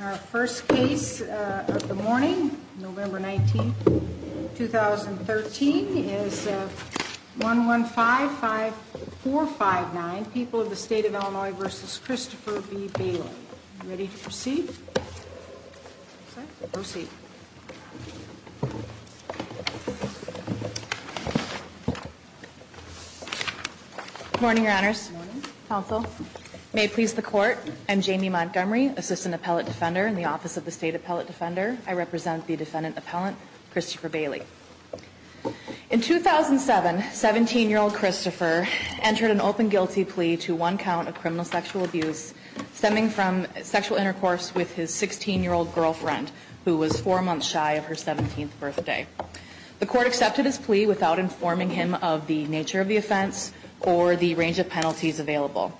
Our first case of the morning, November 19, 2013, is 115-5459, People of the State of Illinois v. Christopher B. Bailey. Ready to proceed? Proceed. Morning, Your Honors. Counsel. May it please the Court, I'm Jamie Montgomery, Assistant Appellate Defender in the Office of the State Appellate Defender. I represent the defendant appellant, Christopher Bailey. In 2007, 17-year-old Christopher entered an open guilty plea to one count of criminal sexual abuse stemming from sexual intercourse with his 16-year-old girlfriend, who was four months shy of her 17th birthday. The Court accepted his plea without informing him of the nature of the offense or the range of penalties available.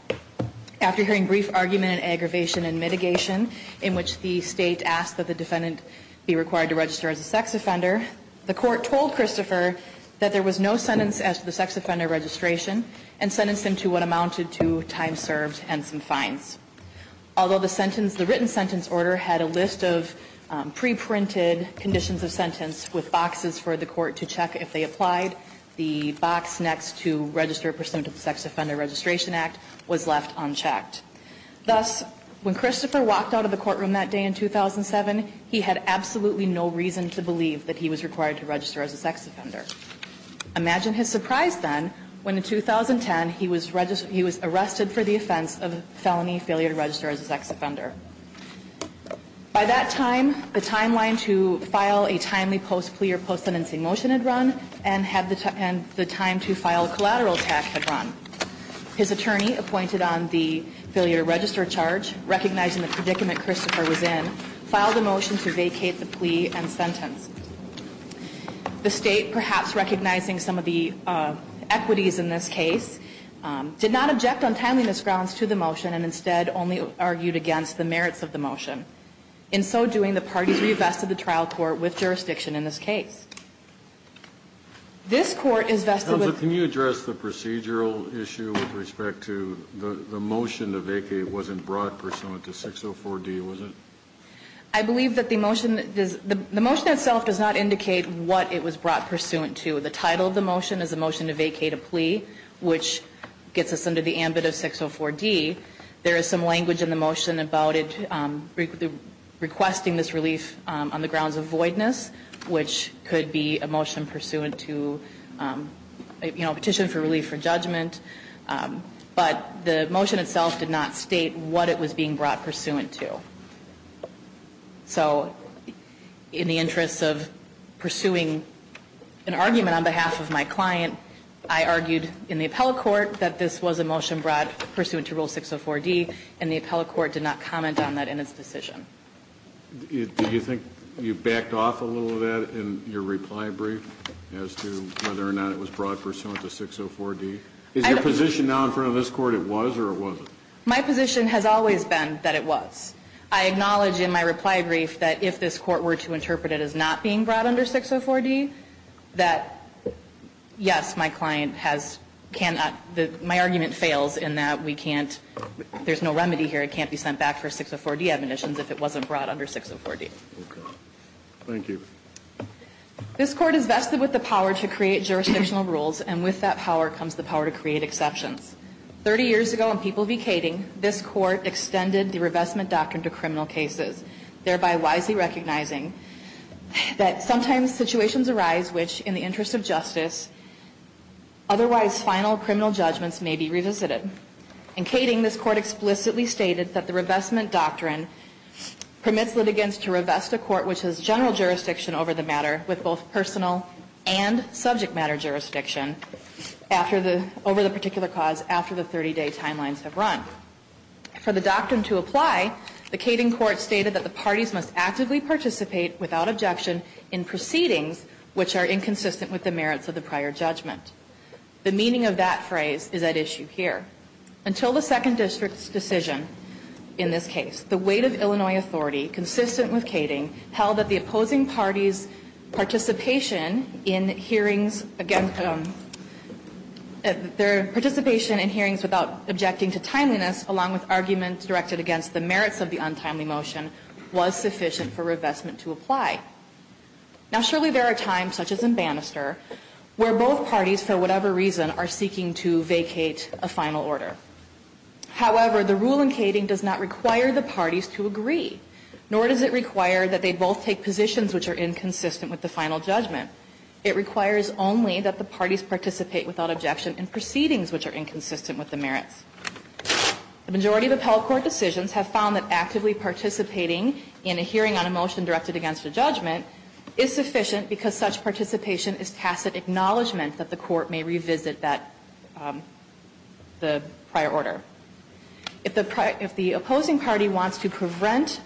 After hearing brief argument and aggravation and mitigation in which the State asked that the defendant be required to register as a sex offender, the Court told Christopher that there was no sentence as to the sex offender registration and sentenced him to what amounted to time served and some fines. Although the sentence, the written sentence order had a list of preprinted conditions of sentence with boxes for the Court to check if they applied, the box next to register pursuant to the Sex Offender Registration Act was left unchecked. Thus, when Christopher walked out of the courtroom that day in 2007, he had absolutely no reason to believe that he was required to register as a sex offender. Imagine his surprise then when in 2010 he was arrested for the offense of felony failure to register as a sex offender. By that time, the timeline to file a timely post-plea or post-sentencing motion had run and the time to file a collateral attack had run. His attorney, appointed on the failure to register charge, recognizing the predicament Christopher was in, filed a motion to vacate the plea and sentence. The State, perhaps recognizing some of the equities in this case, did not object on timeliness grounds to the motion and instead only argued against the merits of the motion. In so doing, the parties re-vested the trial court with jurisdiction in this case. This Court is vested with. Can you address the procedural issue with respect to the motion to vacate wasn't brought pursuant to 604D, was it? I believe that the motion does, the motion itself does not indicate what it was brought pursuant to. The title of the motion is a motion to vacate a plea, which gets us under the ambit of 604D. There is some language in the motion about it requesting this relief on the grounds of voidness, which could be a motion pursuant to, you know, petition for relief for judgment. But the motion itself did not state what it was being brought pursuant to. So in the interest of pursuing an argument on behalf of my client, I argued in the appellate court that this was a motion brought pursuant to Rule 604D, and the appellate court did not comment on that in its decision. Do you think you backed off a little of that in your reply brief as to whether or not it was brought pursuant to 604D? Is your position now in front of this Court it was or it wasn't? My position has always been that it was. I acknowledge in my reply brief that if this Court were to interpret it as not being brought under 604D, that, yes, my client has cannot, my argument fails in that we can't, there's no remedy here, it can't be sent back for 604D admonitions if it wasn't brought under 604D. Okay. Thank you. This Court is vested with the power to create jurisdictional rules, and with that power comes the power to create exceptions. Thirty years ago in People v. Kading, this Court extended the revestment doctrine to criminal cases, thereby wisely recognizing that sometimes situations arise which, in the interest of justice, otherwise final criminal judgments may be revisited. In Kading, this Court explicitly stated that the revestment doctrine permits litigants to revest a court which has general jurisdiction over the matter with both personal and subject matter jurisdiction over the particular cause after the 30-day timelines have run. For the doctrine to apply, the Kading Court stated that the parties must actively participate without objection in proceedings which are inconsistent with the merits of the prior judgment. The meaning of that phrase is at issue here. Until the Second District's decision in this case, the weight of Illinois authority consistent with Kading held that the opposing parties' participation in hearings without objecting to timeliness, along with arguments directed against the merits of the untimely motion, was sufficient for revestment to apply. Now, surely there are times, such as in Bannister, where both parties, for whatever reason, are seeking to vacate a final order. However, the rule in Kading does not require the parties to agree, nor does it require that they both take positions which are inconsistent with the final judgment. It requires only that the parties participate without objection in proceedings which are inconsistent with the merits. The majority of appellate court decisions have found that actively participating in a hearing on a motion directed against a judgment is sufficient because such participation is tacit acknowledgment that the court may revisit that, the prior order. If the opposing party wants to prevent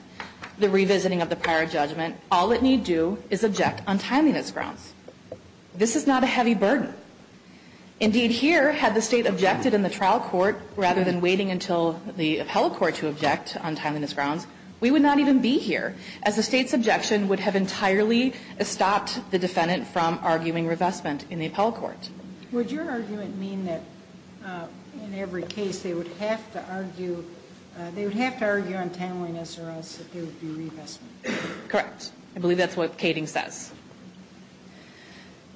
the revisiting of the prior judgment, all it need do is object on timeliness grounds. This is not a heavy burden. Indeed, here, had the State objected in the trial court, rather than waiting until the appellate court to object on timeliness grounds, we would not even be here, as the State's objection would have entirely stopped the defendant from arguing revestment in the appellate court. Would your argument mean that in every case they would have to argue on timeliness or else there would be revestment? Correct. I believe that's what Kading says.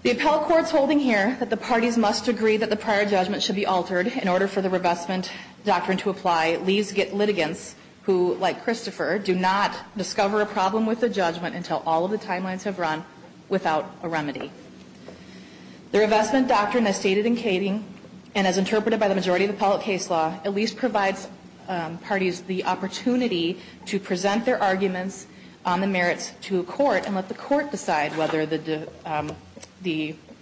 The appellate court's holding here that the parties must agree that the prior judgment should be altered in order for the revestment doctrine to apply leaves litigants who, like Christopher, do not discover a problem with the judgment until all of the timelines have run without a remedy. The revestment doctrine as stated in Kading and as interpreted by the majority of appellate case law at least provides parties the opportunity to present their arguments on the merits to a court and let the court decide whether the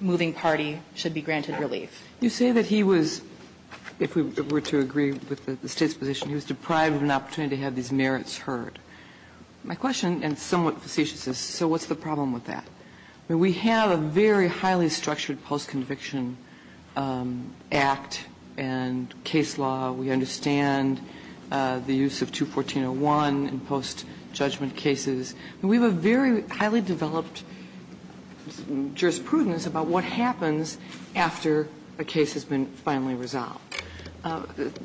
moving party should be granted relief. You say that he was, if we were to agree with the State's position, he was deprived of an opportunity to have these merits heard. My question, and somewhat facetious, is so what's the problem with that? We have a very highly structured post-conviction act and case law. We understand the use of 214.01 in post-judgment cases. We have a very highly developed jurisprudence about what happens after a case has been finally resolved.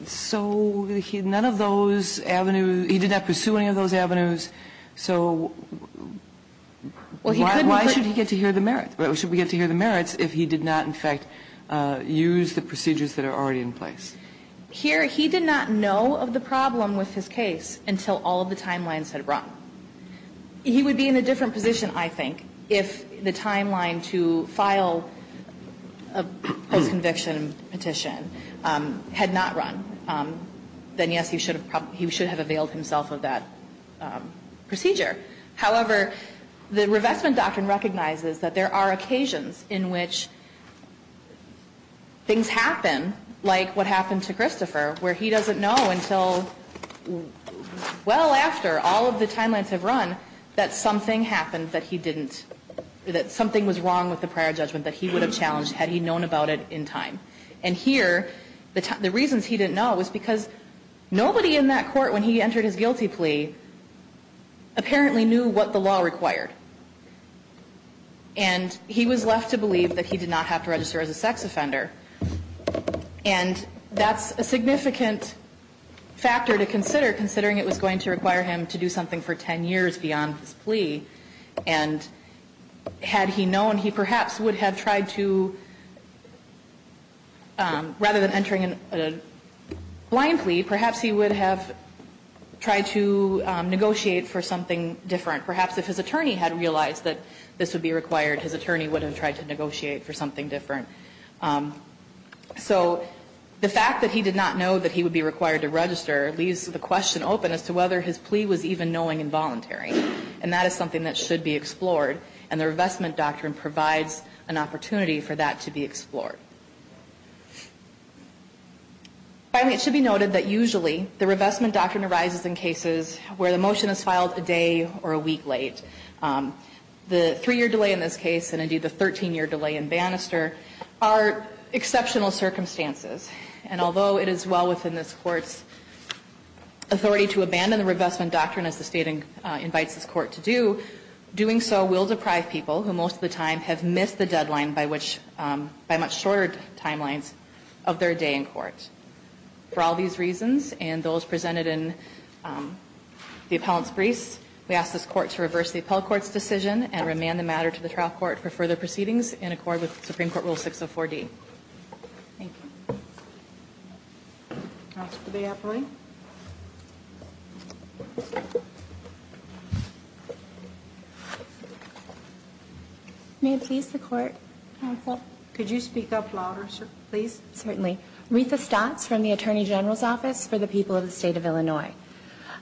So none of those avenues, he did not pursue any of those avenues. So why should he get to hear the merits? Should we get to hear the merits if he did not, in fact, use the procedures that are already in place? Here, he did not know of the problem with his case until all of the timelines had run. He would be in a different position, I think, if the timeline to file a post-conviction petition had not run. Then, yes, he should have availed himself of that procedure. However, the revestment doctrine recognizes that there are occasions in which things happen, like what happened to Christopher, where he doesn't know until well after all of the timelines have run that something happened that he didn't, that something was wrong with the prior judgment that he would have challenged had he known about it in time. And here, the reasons he didn't know was because nobody in that court, when he entered his guilty plea, apparently knew what the law required. And he was left to believe that he did not have to register as a sex offender. And that's a significant factor to consider, considering it was going to require him to do something for 10 years beyond his plea. And had he known, he perhaps would have tried to, rather than entering a blind plea, perhaps he would have tried to negotiate for something different. Perhaps if his attorney had realized that this would be required, his attorney would have tried to negotiate for something different. So the fact that he did not know that he would be required to register leaves the question open as to whether his plea was even knowing and voluntary. And that is something that should be explored. And the revestment doctrine provides an opportunity for that to be explored. Finally, it should be noted that usually the revestment doctrine arises in cases where the motion is filed a day or a week late. The three-year delay in this case and, indeed, the 13-year delay in Bannister are exceptional circumstances. And although it is well within this Court's authority to abandon the revestment doctrine, as the State invites this Court to do, doing so will deprive people who most of the time have missed the deadline by much shorter timelines of their day in court. For all these reasons and those presented in the appellant's briefs, we ask this Court to reverse the appellate court's decision and remand the matter to the trial court for further proceedings in accord with Supreme Court Rule 604D. Thank you. Counsel for the appellant. May it please the Court? Counsel. Could you speak up louder, please? Certainly. Reitha Stotz from the Attorney General's Office for the people of the State of Illinois.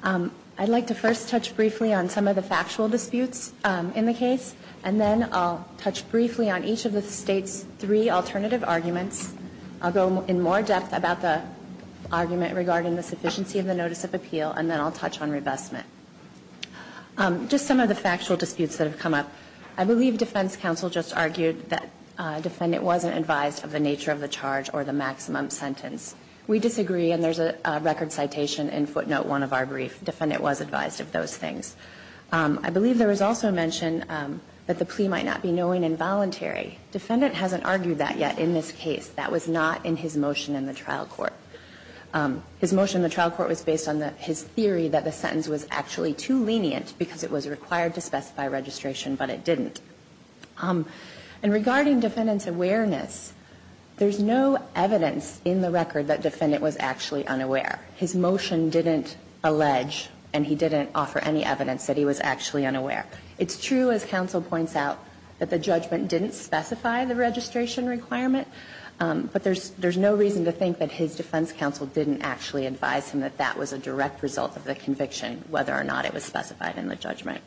I'd like to first touch briefly on some of the factual disputes in the case, and then I'll touch briefly on each of the State's three alternative arguments. I'll go in more depth about the argument regarding the sufficiency of the notice of appeal, and then I'll touch on revestment. Just some of the factual disputes that have come up. I believe defense counsel just argued that defendant wasn't advised of the nature of the charge or the maximum sentence. We disagree, and there's a record citation in footnote 1 of our brief. Defendant was advised of those things. And we disagree. Defendant hasn't argued that yet in this case. That was not in his motion in the trial court. His motion in the trial court was based on his theory that the sentence was actually too lenient because it was required to specify registration, but it didn't. And regarding defendant's awareness, there's no evidence in the record that defendant was actually unaware. His motion didn't allege and he didn't offer any evidence that he was actually unaware. It's true, as counsel points out, that the judgment didn't specify the registration requirement, but there's no reason to think that his defense counsel didn't actually advise him that that was a direct result of the conviction, whether or not it was specified in the judgment.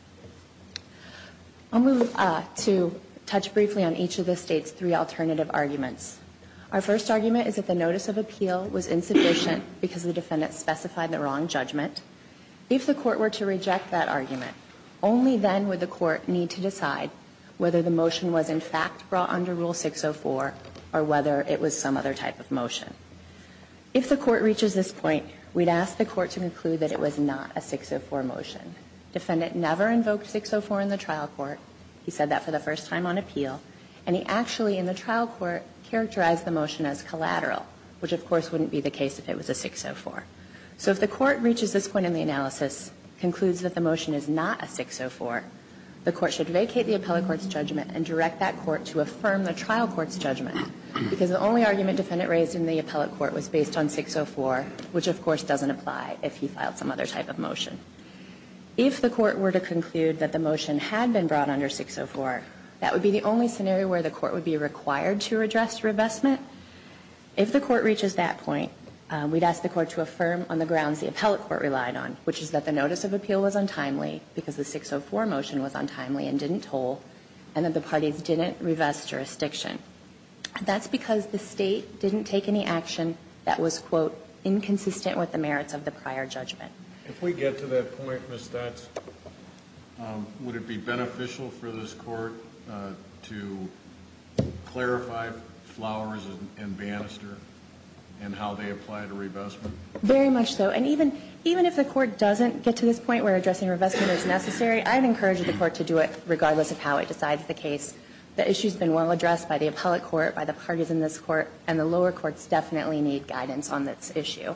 I'll move to touch briefly on each of the State's three alternative arguments. Our first argument is that the notice of appeal was insufficient because the defendant specified the wrong judgment. If the Court were to reject that argument, only then would the Court need to decide whether the motion was in fact brought under Rule 604 or whether it was some other type of motion. If the Court reaches this point, we'd ask the Court to conclude that it was not a 604 motion. Defendant never invoked 604 in the trial court. He said that for the first time on appeal. And he actually, in the trial court, characterized the motion as collateral, which, of course, wouldn't be the case if it was a 604. So if the Court reaches this point in the analysis, concludes that the motion is not a 604, the Court should vacate the appellate court's judgment and direct that court to affirm the trial court's judgment, because the only argument defendant raised in the appellate court was based on 604, which, of course, doesn't apply if he filed some other type of motion. If the Court were to conclude that the motion had been brought under 604, that would be the only scenario where the Court would be required to address revestment. If the Court reaches that point, we'd ask the Court to affirm on the grounds the appellate court relied on, which is that the notice of appeal was untimely because the 604 motion was untimely and didn't toll, and that the parties didn't revest jurisdiction. That's because the State didn't take any action that was, quote, inconsistent with the merits of the prior judgment. If we get to that point, Ms. Stutz, would it be beneficial for this Court to clarify Flowers and Bannister and how they apply to revestment? Very much so. And even if the Court doesn't get to this point where addressing revestment is necessary, I'd encourage the Court to do it regardless of how it decides the case. The issue has been well addressed by the appellate court, by the parties in this Court, and the lower courts definitely need guidance on this issue.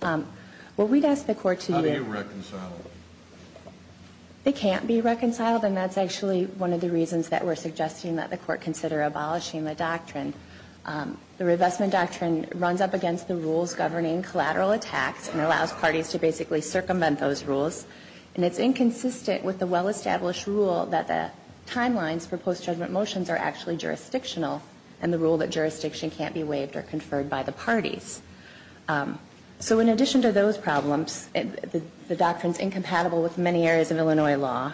What we'd ask the Court to do is... How do you reconcile it? It can't be reconciled, and that's actually one of the reasons that we're suggesting that the Court consider abolishing the doctrine. The revestment doctrine runs up against the rules governing collateral attacks and allows parties to basically circumvent those rules. And it's inconsistent with the well-established rule that the timelines for post-judgment motions are actually jurisdictional and the rule that jurisdiction can't be waived or conferred by the parties. So in addition to those problems, the doctrine is incompatible with many areas of Illinois law,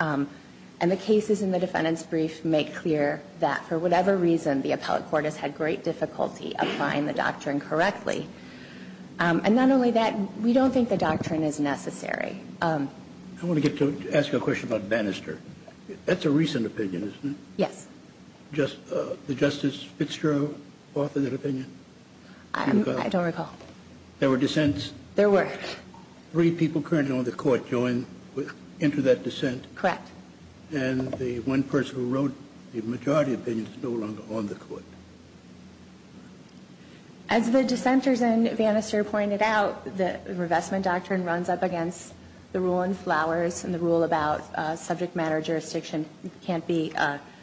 and the cases in the defendant's brief make clear that for whatever reason the appellate court has had great difficulty applying the doctrine correctly. And not only that, we don't think the doctrine is necessary. I want to get to ask you a question about Bannister. That's a recent opinion, isn't it? Yes. The Justice Fitzgerald authored that opinion? I don't recall. There were dissents. There were. Three people currently on the Court joined into that dissent. Correct. And the one person who wrote the majority opinion is no longer on the Court. As the dissenters in Bannister pointed out, the revestment doctrine runs up against the rule on flowers and the rule about subject matter jurisdiction can't be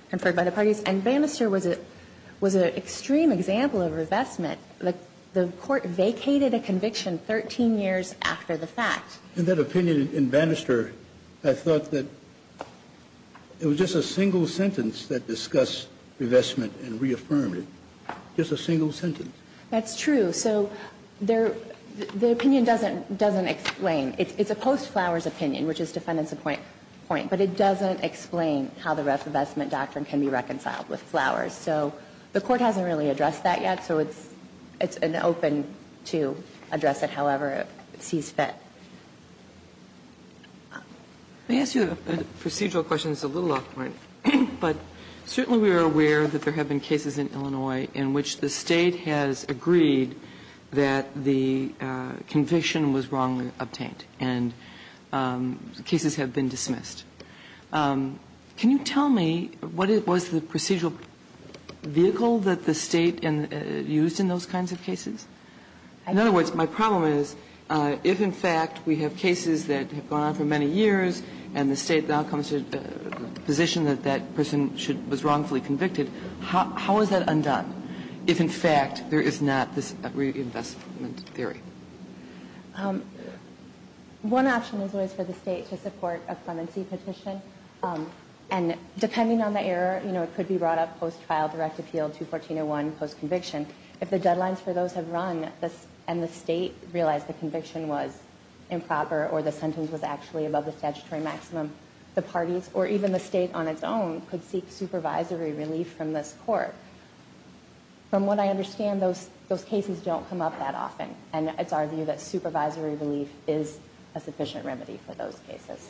conferred by the parties. And Bannister was an extreme example of revestment. The Court vacated a conviction 13 years after the fact. In that opinion in Bannister, I thought that it was just a single sentence that discussed revestment and reaffirmed it. Just a single sentence. That's true. So the opinion doesn't explain. It's a post-flowers opinion, which is defendant's point, but it doesn't explain how the revestment doctrine can be reconciled with flowers. So the Court hasn't really addressed that yet, so it's an open to address it however it sees fit. Let me ask you a procedural question that's a little awkward. But certainly we are aware that there have been cases in Illinois in which the State has agreed that the conviction was wrongly obtained and cases have been dismissed. Can you tell me what was the procedural vehicle that the State used in those kinds of cases? In other words, my problem is if in fact we have cases that have gone on for many years and the State now comes to the position that that person was wrongfully convicted, how is that undone if in fact there is not this reinvestment theory? One option is always for the State to support a clemency petition. And depending on the error, it could be brought up post-trial, direct appeal, 21401, post-conviction. If the deadlines for those have run and the State realized the conviction was improper or the sentence was actually above the statutory maximum, the parties or even the State on its own could seek supervisory relief from this Court. From what I understand, those cases don't come up that often. And it's our view that supervisory relief is a sufficient remedy for those cases.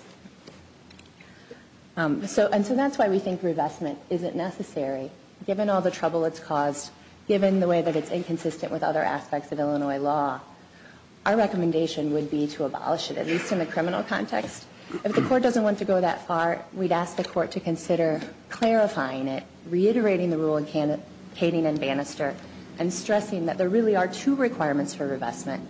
And so that's why we think reinvestment isn't necessary. Given all the trouble it's caused, given the way that it's inconsistent with other aspects of Illinois law, our recommendation would be to abolish it, at least in the criminal context. If the Court doesn't want to go that far, we'd ask the Court to consider clarifying it, reiterating the rule in Kading and Bannister, and stressing that there really are two requirements for reinvestment.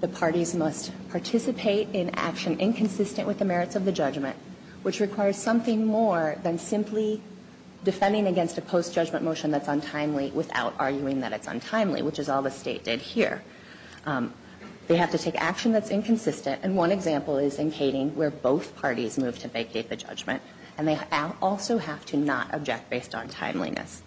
The parties must participate in action inconsistent with the merits of the judgment, which requires something more than simply defending against a post-judgment motion that's untimely without arguing that it's untimely, which is all the State did here. They have to take action that's inconsistent. And one example is in Kading where both parties moved to vacate the judgment. And they also have to not object based on timeliness.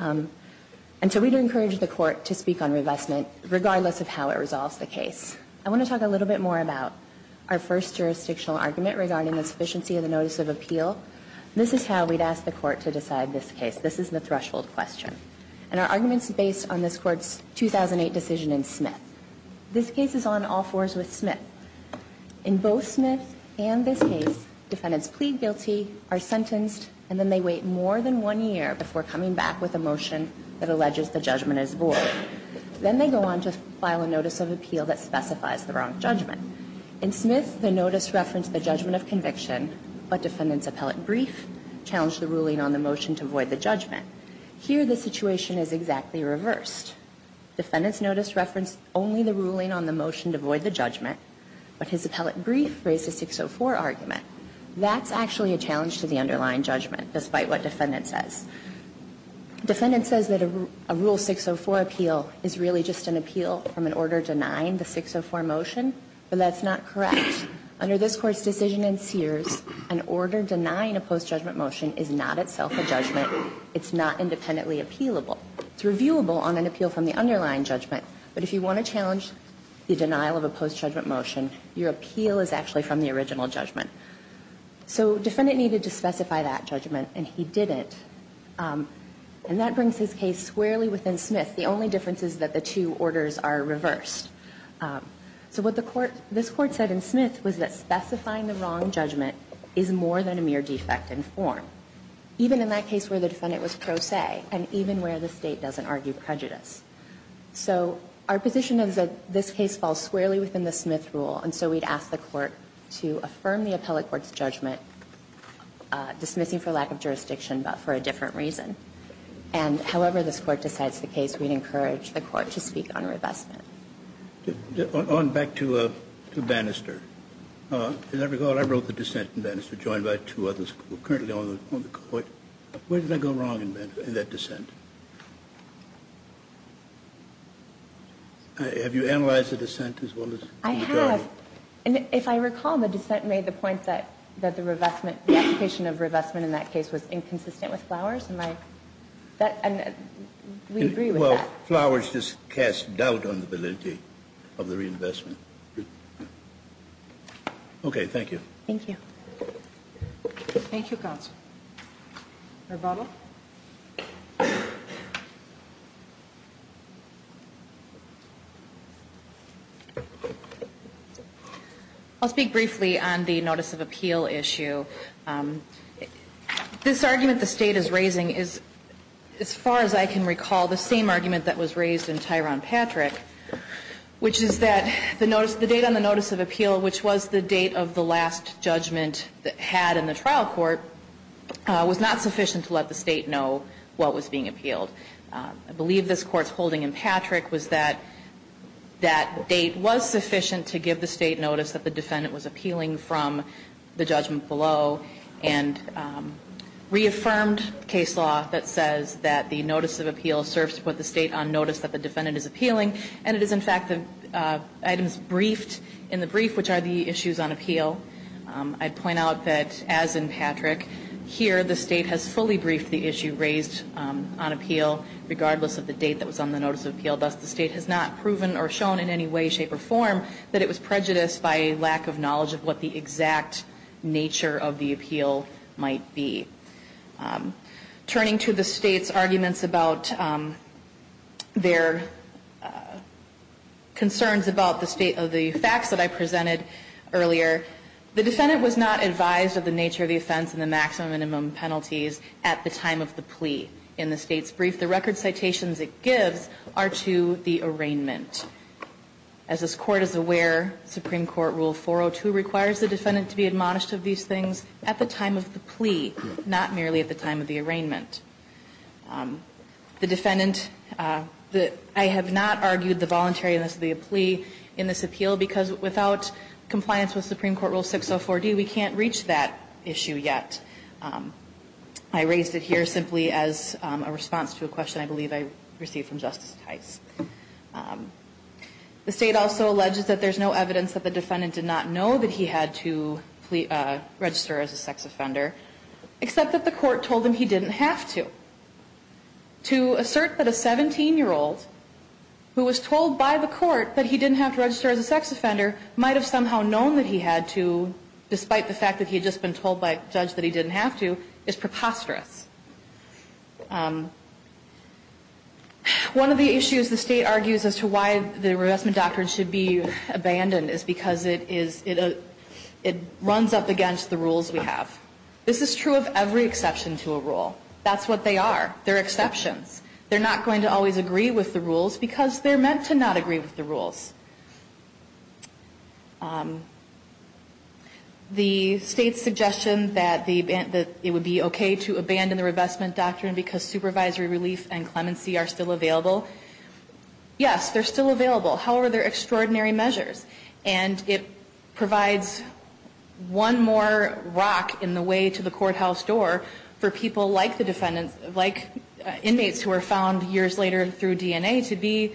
And so we'd encourage the Court to speak on reinvestment, regardless of how it resolves the case. I want to talk a little bit more about our first jurisdictional argument regarding the sufficiency of the notice of appeal. This is how we'd ask the Court to decide this case. This is the threshold question. And our argument's based on this Court's 2008 decision in Smith. This case is on all fours with Smith. In both Smith and this case, defendants plead guilty, are sentenced, and then they wait more than one year before coming back with a motion that alleges the judgment is void. Then they go on to file a notice of appeal that specifies the wrong judgment. In Smith, the notice referenced the judgment of conviction, but defendants' appellate brief challenged the ruling on the motion to void the judgment. Here, the situation is exactly reversed. Defendant's notice referenced only the ruling on the motion to void the judgment, but his appellate brief raised a 604 argument. That's actually a challenge to the underlying judgment, despite what defendant says. Defendant says that a Rule 604 appeal is really just an appeal from an order denying the 604 motion, but that's not correct. Under this Court's decision in Sears, an order denying a post-judgment motion is not itself a judgment. It's not independently appealable. It's reviewable on an appeal from the underlying judgment. But if you want to challenge the denial of a post-judgment motion, your appeal is actually from the original judgment. So defendant needed to specify that judgment, and he didn't. And that brings his case squarely within Smith. The only difference is that the two orders are reversed. So what the Court – this Court said in Smith was that specifying the wrong judgment is more than a mere defect in form. Even in that case where the defendant was pro se and even where the State doesn't argue prejudice. So our position is that this case falls squarely within the Smith rule, and so we'd ask the Court to affirm the appellate court's judgment, dismissing for lack of jurisdiction but for a different reason. And however this Court decides the case, we'd encourage the Court to speak on revestment. Kennedy, on back to Bannister, in that regard, I wrote the dissent in Bannister joined by two others who are currently on the Court. Where did I go wrong in that dissent? Have you analyzed the dissent as well as the jury? I have. And if I recall, the dissent made the point that the revestment – the application of revestment in that case was inconsistent with Flowers, and I – that – and we agree with that. Well, Flowers just cast doubt on the validity of the reinvestment. Okay. Thank you. Thank you. Thank you, Counsel. Ervado. I'll speak briefly on the notice of appeal issue. This argument the State is raising is, as far as I can recall, the same argument that was raised in Tyron Patrick, which is that the notice – the date on the notice of appeal, which was the date of the last judgment had in the trial court, was not sufficient to let the State know what was being appealed. I believe this Court's holding in Patrick was that that date was sufficient to give the State notice that the defendant was appealing from the judgment below and reaffirmed case law that says that the notice of appeal serves to put the State on notice that the defendant is appealing, and it is, in fact, the items briefed in the brief, which are the issues on appeal. I'd point out that, as in Patrick, here the State has fully briefed the issue raised on appeal, regardless of the date that was on the notice of appeal, thus the State has not proven or shown in any way, shape, or form that it was prejudiced by a lack of knowledge of what the exact nature of the appeal might be. Turning to the State's arguments about their concerns about the facts that I presented earlier, the defendant was not advised of the nature of the offense and the maximum and minimum penalties at the time of the plea in the State's brief. The record citations it gives are to the arraignment. As this Court is aware, Supreme Court Rule 402 requires the defendant to be admonished of these things at the time of the plea, not merely at the time of the arraignment. The defendant, I have not argued the voluntariness of the plea in this appeal because without compliance with Supreme Court Rule 604D, we can't reach that issue yet. I raised it here simply as a response to a question I believe I received from Justice Tice. The State also alleges that there's no evidence that the defendant did not know that he had to register as a sex offender, except that the Court told him he didn't have to. To assert that a 17-year-old who was told by the Court that he didn't have to register as a sex offender might have somehow known that he had to, despite the fact that he had just been told by a judge that he didn't have to, is preposterous. One of the issues the State argues as to why the revestment doctrine should be abandoned is because it runs up against the rules we have. This is true of every exception to a rule. That's what they are. They're exceptions. They're not going to always agree with the rules because they're meant to not agree with the rules. The State's suggestion that it would be okay to abandon the revestment doctrine because supervisory relief and clemency are still available, yes, they're still available. However, they're extraordinary measures. And it provides one more rock in the way to the courthouse door for people like the defendants, like inmates who are found years later through DNA, to be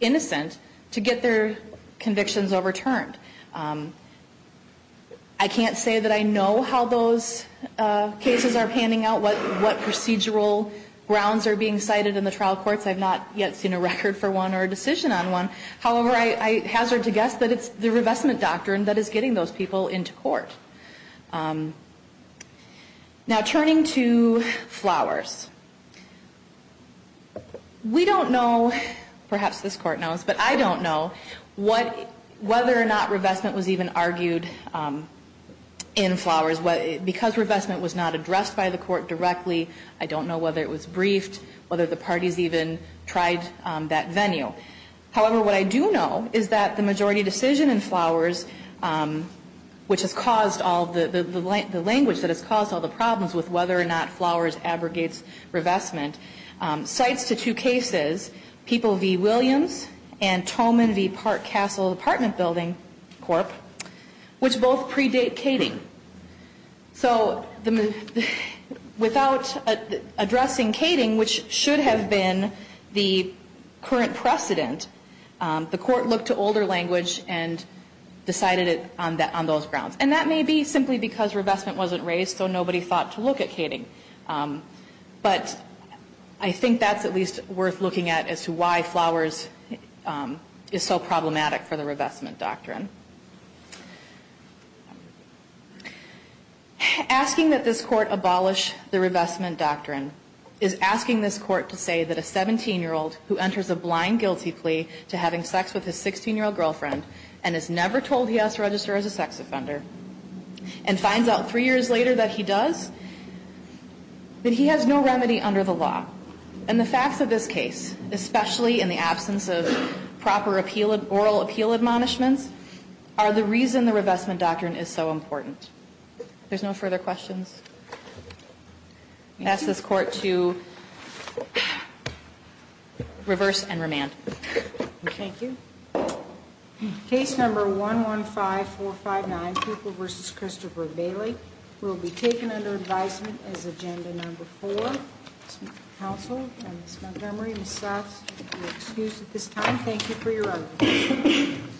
innocent, to get their convictions overturned. I can't say that I know how those cases are panning out, what procedural grounds are being cited in the trial courts. I've not yet seen a record for one or a decision on one. However, I hazard to guess that it's the revestment doctrine that is getting those people into court. Now, turning to Flowers. We don't know, perhaps this Court knows, but I don't know whether or not revestment was even argued in Flowers. Because revestment was not addressed by the Court directly, I don't know whether it was briefed, whether the parties even tried that venue. However, what I do know is that the majority decision in Flowers, which has caused all the language that has caused all the problems with whether or not Flowers abrogates revestment, cites the two cases, People v. Williams and Tolman v. Park Castle Apartment Building Corp., which both predate Kading. So without addressing Kading, which should have been the current precedent, the Court looked to older language and decided it on those grounds. And that may be simply because revestment wasn't raised, so nobody thought to look at Kading. But I think that's at least worth looking at as to why Flowers is so problematic for the revestment doctrine. Asking that this Court abolish the revestment doctrine is asking this Court to say that a 17-year-old who enters a blind guilty plea to having sex with his 16-year-old girlfriend and is never told he has to register as a sex offender and finds out three years later that he does, that he has no remedy under the law. And the facts of this case, especially in the absence of proper oral appeal admonishments, are the reason the revestment doctrine is so important. If there's no further questions, I ask this Court to reverse and remand. Thank you. Case number 115459, People v. Christopher Bailey, will be taken under advisement as agenda number four. Counsel, Ms. Montgomery, Ms. Sass, you're excused at this time. Thank you for your time.